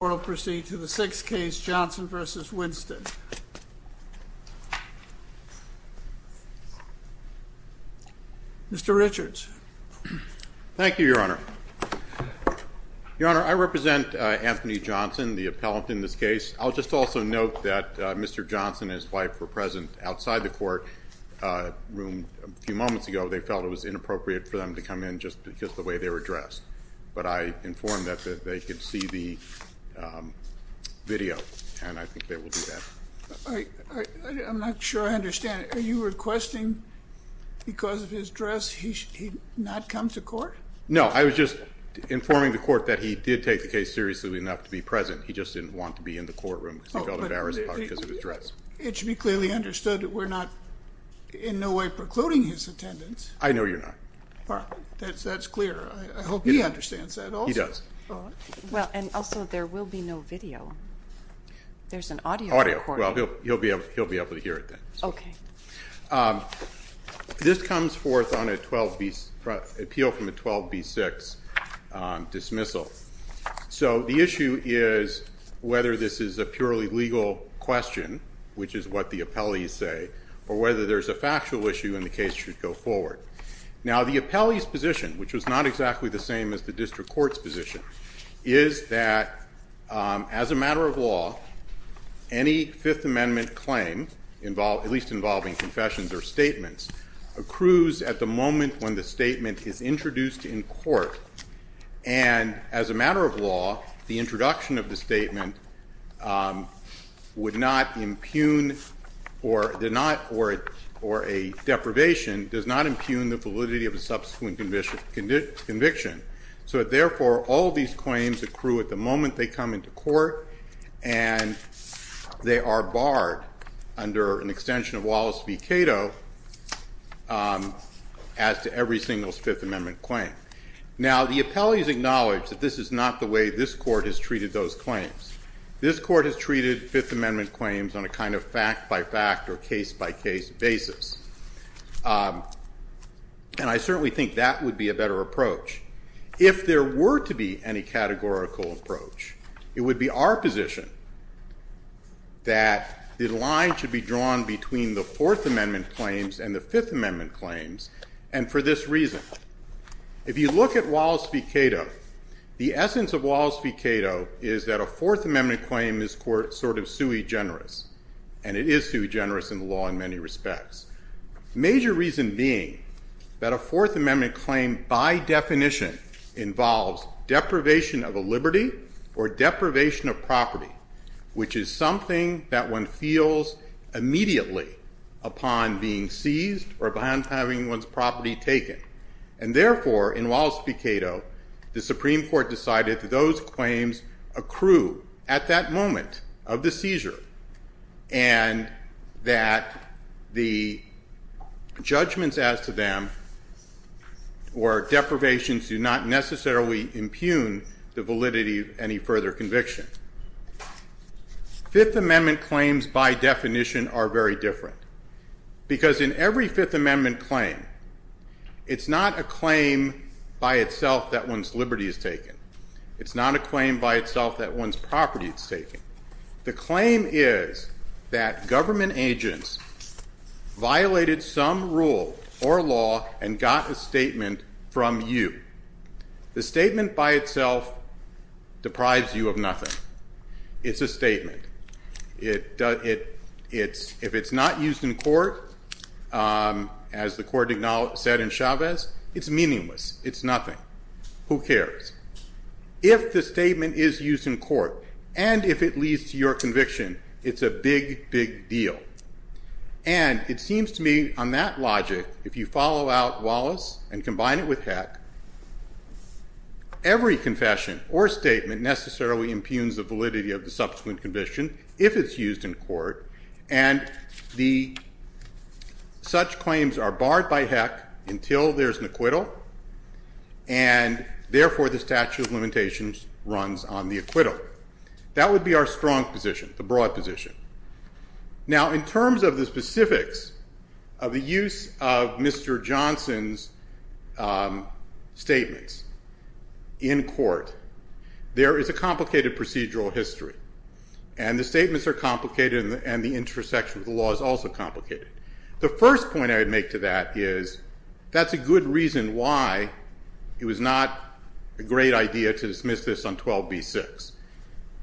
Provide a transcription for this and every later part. to the sixth case, Johnson v. Winstead. Mr. Richards. Thank you, Your Honor. Your Honor, I represent Anthony Johnson, the appellant in this case. I'll just also note that Mr. Johnson and his wife were present outside the court room a few moments ago. They felt it was inappropriate for them to come in just because the way they were dressed. But I informed them that they could see the video, and I think they will do that. I'm not sure I understand. Are you requesting because of his dress he not come to court? No, I was just informing the court that he did take the case seriously enough to be present. He just didn't want to be in the courtroom because he felt embarrassed about it because of his dress. It should be clearly understood that we're not in no way precluding his attendance. I know you're not. That's clear. I hope he understands that also. He does. Well, and also there will be no video. There's an audio recording. Audio. Well, he'll be able to hear it then. Okay. This comes forth on an appeal from a 12b6 dismissal. So the issue is whether this is a purely legal question, which is what the appellees say, or whether there's a factual issue and the case should go forward. Now, the appellee's position, which was not exactly the same as the district court's position, is that as a matter of law, any Fifth Amendment claim, at least involving confessions or statements, accrues at the moment when the statement is introduced in court. And as a matter of law, the introduction of the statement would not deprivation, does not impugn the validity of the subsequent conviction. So therefore, all these claims accrue at the moment they come into court and they are barred under an extension of Wallace v. Cato as to every single Fifth Amendment claim. Now, the appellees acknowledge that this is not the way this court has treated those claims. This court has treated Fifth Amendment claims on a kind of fact-by-fact or case-by-case basis. And I certainly think that would be a better approach. If there were to be any categorical approach, it would be our position that the line should be drawn between the Fourth Amendment claims and the Fifth Amendment claims, and for this reason. If you look at Wallace v. Cato, the court is sort of sui generis, and it is sui generis in the law in many respects. Major reason being that a Fourth Amendment claim, by definition, involves deprivation of a liberty or deprivation of property, which is something that one feels immediately upon being seized or upon having one's property taken. And therefore, in Wallace v. Cato, the Supreme Court decided that those claims accrue at that moment of the seizure, and that the judgments as to them or deprivations do not necessarily impugn the validity of any further conviction. Fifth Amendment claims, by definition, are very different, because in every Fifth Amendment claim, it's not a claim by itself that one's liberty is taken. It's not a claim by itself that one's property is taken. The claim is that government agents violated some rule or law and got a statement from you. The statement by itself deprives you of nothing. It's a it's nothing. Who cares? If the statement is used in court, and if it leads to your conviction, it's a big, big deal. And it seems to me, on that logic, if you follow out Wallace and combine it with Heck, every confession or statement necessarily impugns the validity of the subsequent conviction, if it's used in court. And the such claims are barred by Heck until there's an acquittal. And therefore, the statute of limitations runs on the acquittal. That would be our strong position, the broad position. Now, in terms of the specifics of use of Mr. Johnson's statements in court, there is a complicated procedural history. And the statements are complicated, and the intersection of the law is also complicated. The first point I would make to that is, that's a good reason why it was not a great idea to dismiss this on 12b-6,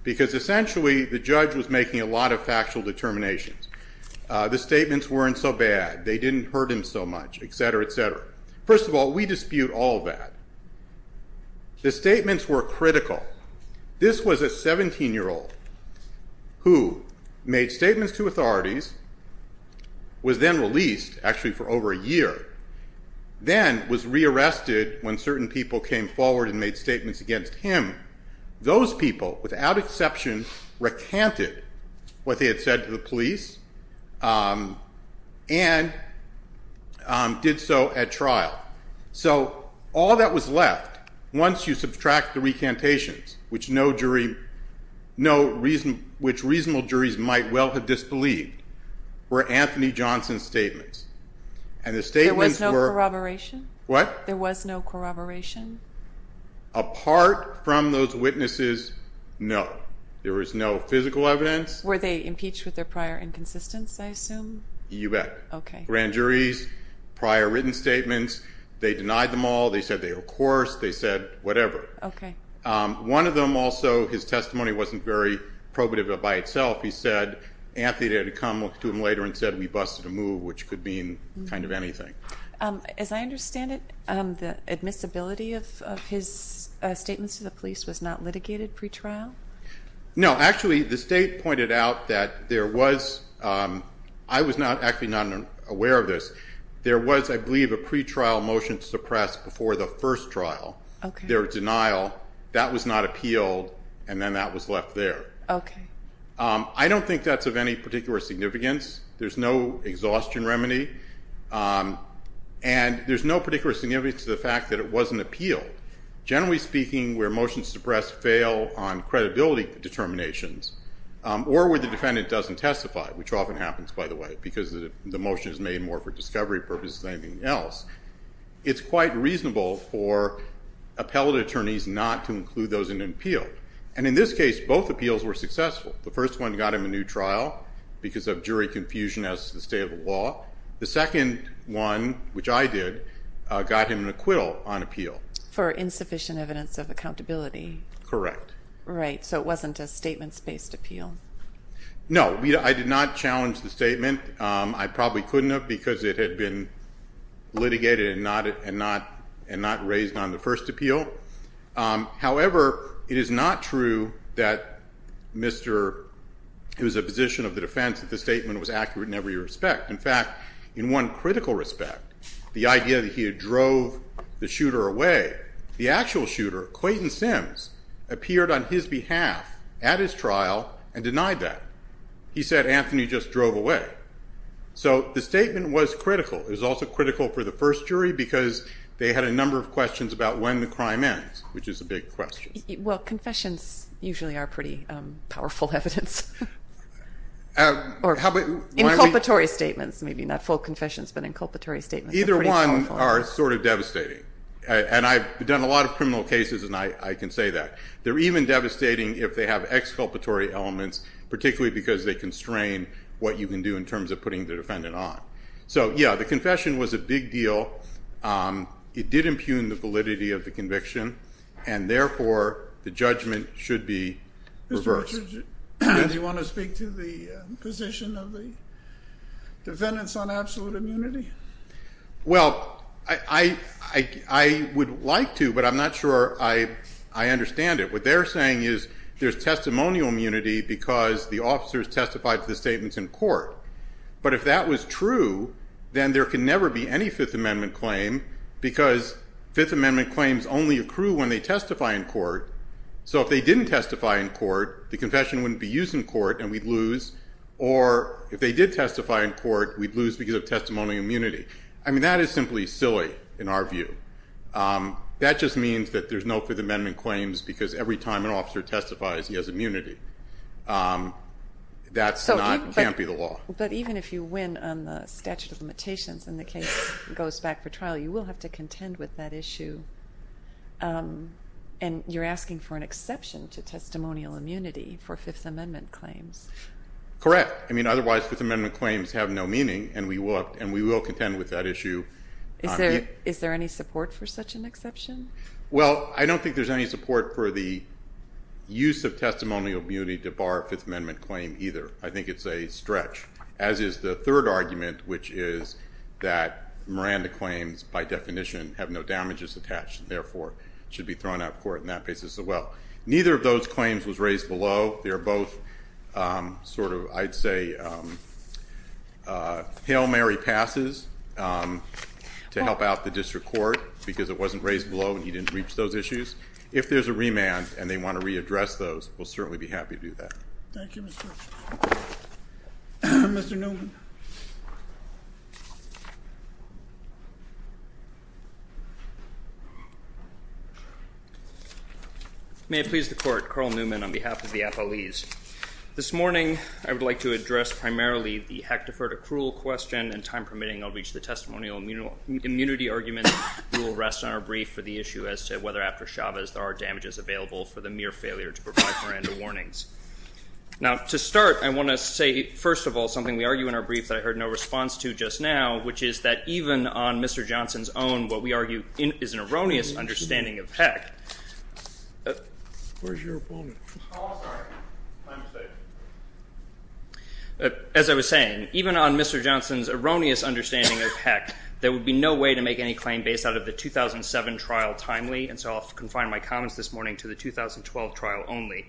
because essentially, the judge was making a lot of factual determinations. The statements weren't so bad. They didn't hurt him so much, et cetera, et cetera. First of all, we dispute all that. The statements were critical. This was a 17-year-old who made statements to authorities, was then released, actually for over a year, then was re-arrested when certain people came forward and made statements against him. Those people, without exception, recanted what they had said to the police and did so at trial. So all that was left, once you subtract the recantations, which reasonable juries might well have disbelieved, were Anthony Johnson's statements. And the statements were... There was no corroboration? What? There was no corroboration? Apart from those witnesses, no. There was no physical evidence. Were they impeached with their prior inconsistency, I assume? You bet. Okay. Grand juries, prior written statements, they denied them all. They said they were coerced. They said whatever. Okay. One of them also, his testimony wasn't very probative by itself. He said, Anthony had come to him later and said, we busted a move, which could mean kind of anything. As I understand it, the admissibility of his statements to the police was not litigated pre-trial? No. Actually, the state pointed out that there was... I was actually not aware of this. There was, I believe, a pre-trial motion suppressed before the first trial. Okay. There was denial. That was not appealed, and then that was left there. Okay. I don't think that's of any particular significance. There's no exhaustion remedy. And there's no particular significance to the fact that it wasn't appealed. Generally speaking, where motions suppressed fail on credibility determinations, or where the defendant doesn't testify, which often happens, by the way, because the motion is made more for discovery purposes than anything else, it's quite reasonable for appellate attorneys not to include those in an appeal. And in this case, both appeals were successful. The first one got him a new trial because of jury confusion as to the state of the law. The second one, which I did, got him an acquittal on appeal. For insufficient evidence of accountability. Correct. Right. So it wasn't a statements-based appeal. No. I did not challenge the statement. I probably couldn't have because it had been litigated and not raised on the first appeal. However, it is not true that Mr. It was a position of the defense that the statement was accurate in every respect. In fact, in one critical respect, the idea that he had drove the shooter away, the actual shooter, Clayton Sims, appeared on his behalf at his trial and denied that. He said, Anthony just drove away. So the statement was critical. It was also critical for the first jury because they had a number of questions about when the crime ends, which is a big question. Well, confessions usually are pretty powerful evidence. Inculpatory statements, maybe not full confessions, but inculpatory statements. Either one are sort of devastating. And I've done a lot of criminal cases and I can say that. They're even devastating if they have exculpatory elements, particularly because they constrain what you can do in terms of putting the defendant on. So, yeah, the confession was a big deal. It did impugn the validity of the conviction. And therefore, the judgment should be reversed. Do you want to speak to the position of the defendants on absolute immunity? Well, I would like to, but I'm not sure I understand it. What they're saying is there's testimonial immunity because the officers testified to the statements in court. But if that was true, then there can never be any Fifth Amendment claim because Fifth Amendment claims only accrue when they testify in court. So if they didn't testify in court, the confession wouldn't be used in court and we'd lose. Or if they did testify in court, we'd lose because of testimonial immunity. I mean, that is simply silly in our view. That just means that there's no Fifth Amendment claims because every time an officer testifies, he has immunity. That can't be the law. But even if you win on the statute of limitations and the case goes back for trial, you will have to contend with that issue. And you're asking for an exception to testimonial immunity for Fifth Amendment claims. Correct. I mean, otherwise, Fifth Amendment claims have no meaning and we will contend with that issue. Is there any support for such an exception? Well, I don't think there's any support for the use of testimonial immunity to bar a Fifth Amendment claim either. I think it's a stretch, as is the third argument, which is that Miranda claims, by definition, have no damages attached and, therefore, should be thrown out of court in that basis as well. Neither of those claims was raised below. They're both sort of, I'd say, Hail Mary passes to help out the district court because it wasn't raised below and he didn't reach those issues. If there's a remand and they want to readdress those, we'll certainly be happy to do that. Thank you, Mr. Chairman. Mr. Newman. May it please the Court. Carl Newman on behalf of the FLEs. This morning, I would like to address primarily the Hectorford accrual question and, time permitting, I'll reach the testimonial immunity argument. We will rest on our brief for the issue as to whether, after Chavez, there are damages available for the mere failure to provide Miranda warnings. Now, to start, I want to say, first of all, something we argue in our brief that I heard no response to just now, which is that even on Mr. Johnson's own, what we argue is an erroneous understanding of HEC. Where's your opponent? Oh, I'm sorry. I'm safe. As I was saying, even on Mr. Johnson's erroneous understanding of HEC, there would be no way to make any claim based out of the 2007 trial timely, and so I'll confine my comments this morning to the 2012 trial only.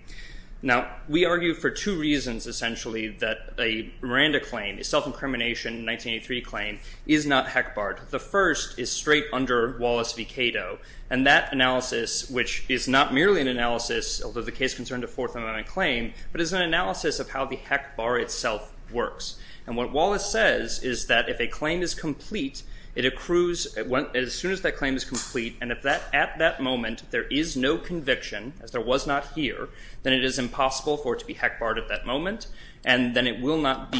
Now, we argue for two reasons, essentially, that a Miranda claim, a self-incrimination 1983 claim, is not HEC barred. The first is straight under Wallace v. Cato, and that analysis, which is not merely an analysis, although the case concerned a Fourth Amendment claim, but is an analysis of how the HEC bar itself works. And what Wallace says is that if a claim is complete, it accrues as soon as that claim is complete, and if at that moment there is no conviction, as there was not here, then it is impossible for it to be HEC barred at that moment, and then it will not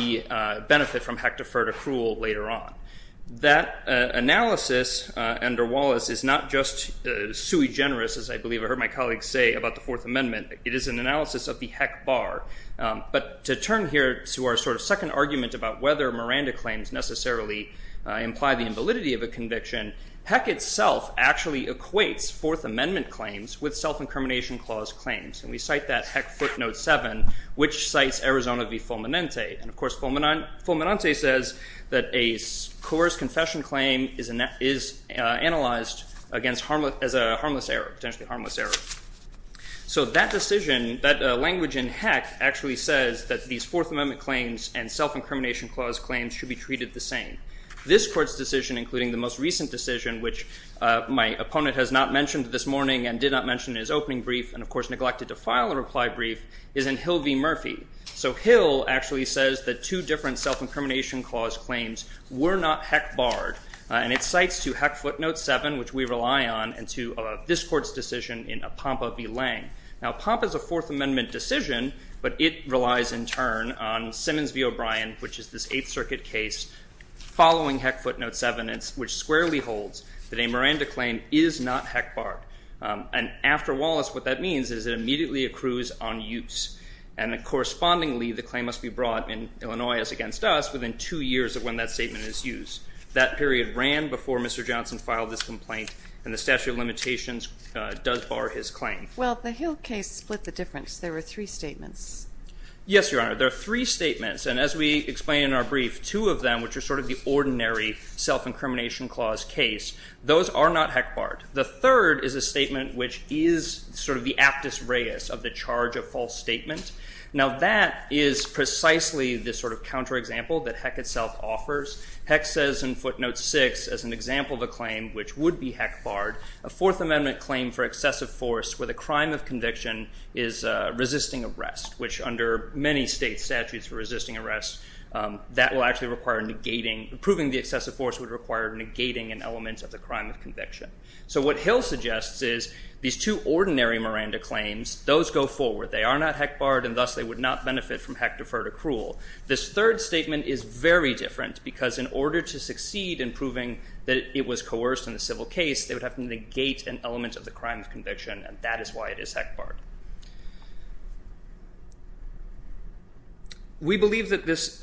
benefit from HEC deferred accrual later on. That analysis under Wallace is not just sui generis, as I believe I heard my colleague say about the Fourth Amendment. It is an analysis of the HEC bar. But to turn here to our sort of second argument about whether Miranda claims necessarily imply the invalidity of a conviction, HEC itself actually equates Fourth Amendment claims with self-incrimination clause claims, and we cite that HEC footnote 7, which cites Arizona v. Fulminante. And, of course, Fulminante says that a coerced confession claim is analyzed as a harmless error, potentially harmless error. So that decision, that language in HEC actually says that these Fourth Amendment claims and self-incrimination clause claims should be treated the same. This Court's decision, including the most recent decision, which my opponent has not mentioned this morning and did not mention in his opening brief and, of course, neglected to file a reply brief, is in Hill v. Murphy. So Hill actually says that two different self-incrimination clause claims were not HEC barred, and it cites to HEC footnote 7, which we rely on, and to this Court's decision in Apompa v. Lange. Now Apompa is a Fourth Amendment decision, but it relies in turn on Simmons v. O'Brien, which is this Eighth Circuit case following HEC footnote 7, which squarely holds that a Miranda claim is not HEC barred. And after Wallace, what that means is it immediately accrues on use. And, correspondingly, the claim must be brought in Illinois as against us within two years of when that statement is used. That period ran before Mr. Johnson filed this complaint, and the statute of limitations does bar his claim. Well, the Hill case split the difference. There were three statements. Yes, Your Honor. There are three statements, and as we explain in our brief, two of them, which are sort of the ordinary self-incrimination clause case, those are not HEC barred. The third is a statement which is sort of the aptus reus of the charge of false statement. Now that is precisely the sort of counterexample that HEC itself offers. HEC says in footnote 6, as an example of a claim which would be HEC barred, a Fourth Amendment claim for excessive force where the crime of conviction is resisting arrest, which under many state statutes for resisting arrest, that will actually require negating, approving the excessive force would require negating an element of the crime of conviction. So what Hill suggests is these two ordinary Miranda claims, those go forward. They are not HEC barred, and thus they would not benefit from HEC deferred accrual. This third statement is very different because in order to succeed in proving that it was coerced in the civil case, they would have to negate an element of the crime of conviction, and that is why it is HEC barred. We believe that this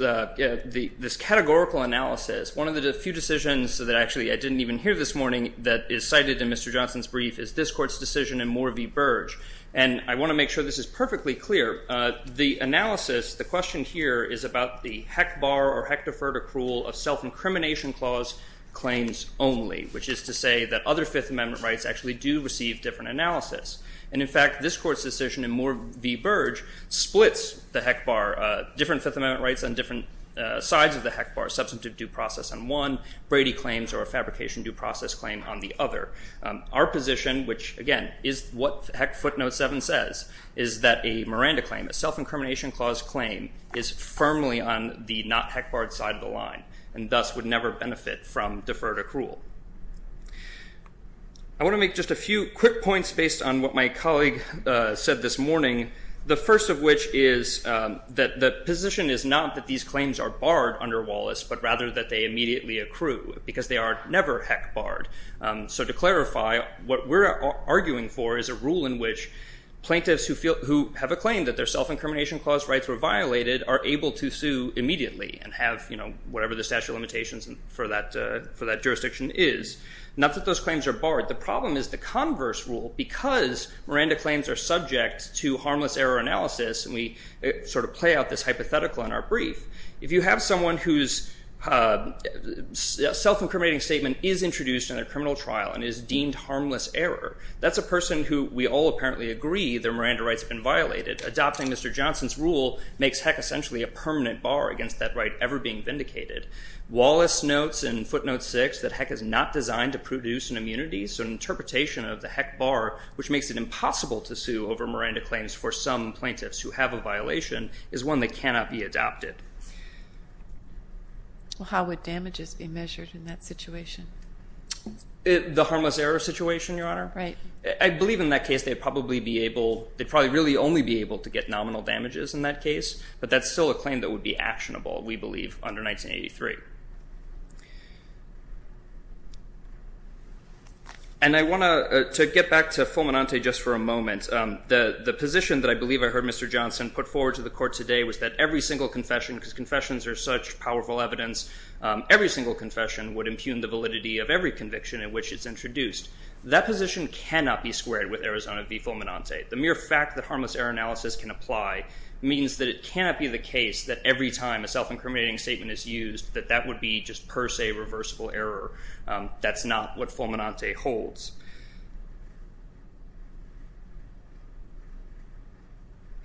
categorical analysis, one of the few decisions that actually I didn't even hear this morning that is cited in Mr. Johnson's brief is this court's decision in Moore v. Burge, and I want to make sure this is perfectly clear. The analysis, the question here is about the HEC bar or HEC deferred accrual of self-incrimination clause claims only, which is to say that other Fifth Amendment rights actually do receive different analysis. And in fact, this court's decision in Moore v. Burge splits the HEC bar, different Fifth Amendment rights on different sides of the HEC bar, substantive due process on one, Brady claims or a fabrication due process claim on the other. Our position, which again is what HEC footnote 7 says, is that a Miranda claim, a self-incrimination clause claim is firmly on the not HEC barred side of the line and thus would never benefit from deferred accrual. I want to make just a few quick points based on what my colleague said this morning, the first of which is that the position is not that these claims are barred under Wallace, but rather that they immediately accrue because they are never HEC barred. So to clarify, what we're arguing for is a rule in which plaintiffs who feel, who have a claim that their self-incrimination clause rights were violated are able to sue immediately and have whatever the statute of limitations for that jurisdiction is. Not that those claims are barred. The problem is the converse rule because Miranda claims are subject to harmless error analysis and we sort of play out this hypothetical in our brief. If you have someone whose self-incriminating statement is introduced in a criminal trial and is deemed harmless error, that's a person who we all apparently agree their Miranda rights have been violated. Adopting Mr. Johnson's rule makes HEC essentially a permanent bar against that right ever being vindicated. Wallace notes in footnote 6 that HEC is not designed to produce an immunity, so an interpretation of the HEC bar, which makes it impossible to sue over Miranda claims for some plaintiffs who have a violation, is one that cannot be adopted. How would damages be measured in that situation? The harmless error situation, Your Honor? Right. I believe in that case they'd probably really only be able to get nominal damages in that case, but that's still a claim that would be actionable, we believe, under 1983. And I want to get back to Fulminante just for a moment. The position that I believe I heard Mr. Johnson put forward to the court today was that every single confession, because confessions are such powerful evidence, every single confession would impugn the validity of every conviction in which it's introduced. That position cannot be squared with Arizona v. Fulminante. The mere fact that harmless error analysis can apply means that it cannot be the case that every time a self-incriminating statement is used that that would be just per se reversible error. That's not what Fulminante holds.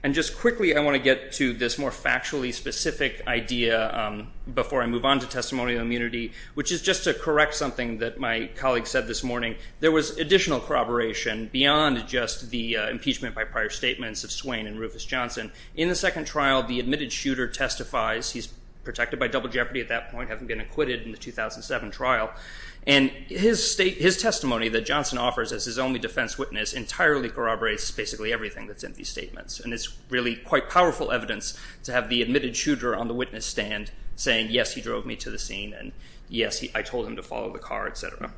And just quickly I want to get to this more factually specific idea before I move on to testimony of immunity, which is just to correct something that my colleague said this morning. There was additional corroboration beyond just the impeachment by prior statements of Swain and Rufus Johnson. In the second trial, the admitted shooter testifies. He's protected by double jeopardy at that point, having been acquitted in the 2007 trial. And his testimony that Johnson offers as his only defense witness entirely corroborates basically everything that's in these statements. And it's really quite powerful evidence to have the admitted shooter on the witness stand saying, yes, he drove me to the scene, and yes, I told him to follow the car, et cetera.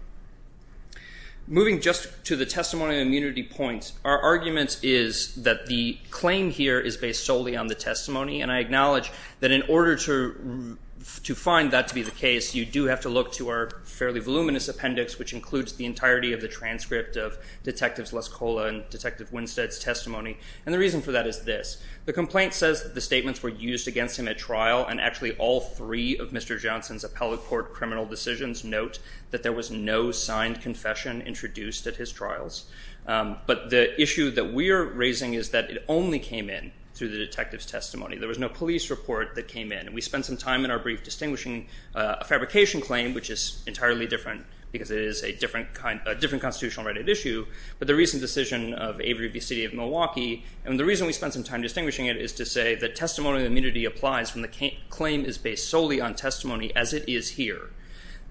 Moving just to the testimony of immunity points, our argument is that the claim here is based solely on the testimony. And I acknowledge that in order to find that to be the case, you do have to look to our fairly voluminous appendix, which includes the entirety of the transcript of Detectives Lascola and Detective Winstead's testimony. And the reason for that is this. The complaint says that the statements were used against him at trial, and actually all three of Mr. Johnson's appellate court criminal decisions note that there was no signed confession introduced at his trials. But the issue that we're raising is that it only came in through the detective's testimony. There was no police report that came in. And we spent some time in our brief distinguishing a fabrication claim, which is entirely different because it is a different constitutional right at issue, but the recent decision of Avery v. City of Milwaukee. And the reason we spent some time distinguishing it is to say that testimony of immunity applies when the claim is based solely on testimony as it is here.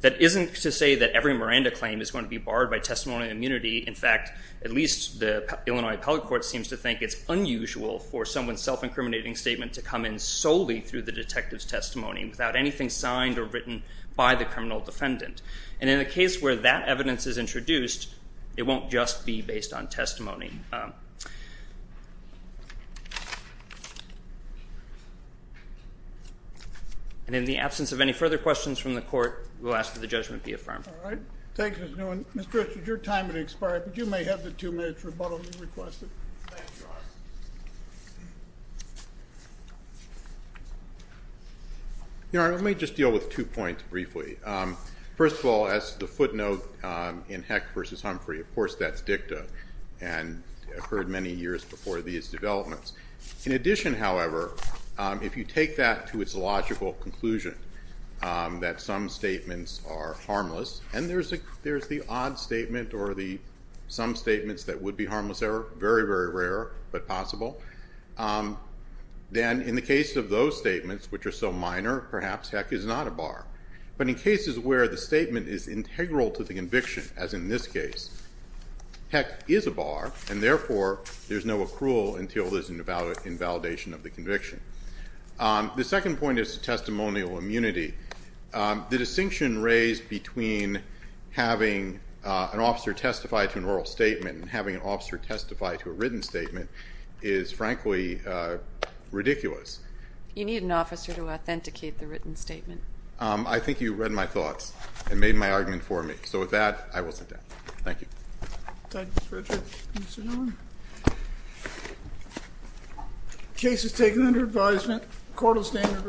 That isn't to say that every Miranda claim is going to be barred by testimony of immunity. In fact, at least the Illinois appellate court seems to think it's unusual for someone's self-incriminating statement to come in solely through the detective's testimony without anything signed or written by the criminal defendant. And in a case where that evidence is introduced, it won't just be based on testimony. And in the absence of any further questions from the court, we'll ask that the judgment be affirmed. All right. Thank you, Mr. Newman. Mr. Richards, your time has expired, but you may have the two minutes rebuttally requested. Thank you. Let me just deal with two points briefly. First of all, as the footnote in Heck v. Humphrey, of course that's dicta and occurred many years before these developments. In addition, however, if you take that to its logical conclusion that some statements are harmless, and there's the odd statement or some statements that would be harmless, they're very, very rare but possible, then in the case of those statements, which are so minor, perhaps Heck is not a bar. But in cases where the statement is integral to the conviction, as in this case, Heck is a bar, and therefore there's no accrual until there's an invalidation of the conviction. The second point is testimonial immunity. The distinction raised between having an officer testify to an oral statement and having an officer testify to a written statement is, frankly, ridiculous. You need an officer to authenticate the written statement. I think you read my thoughts and made my argument for me. So with that, I will sit down. Thank you. Thank you, Mr. Richard. Mr. Newman? The case is taken under advisement. The court will stand at recess.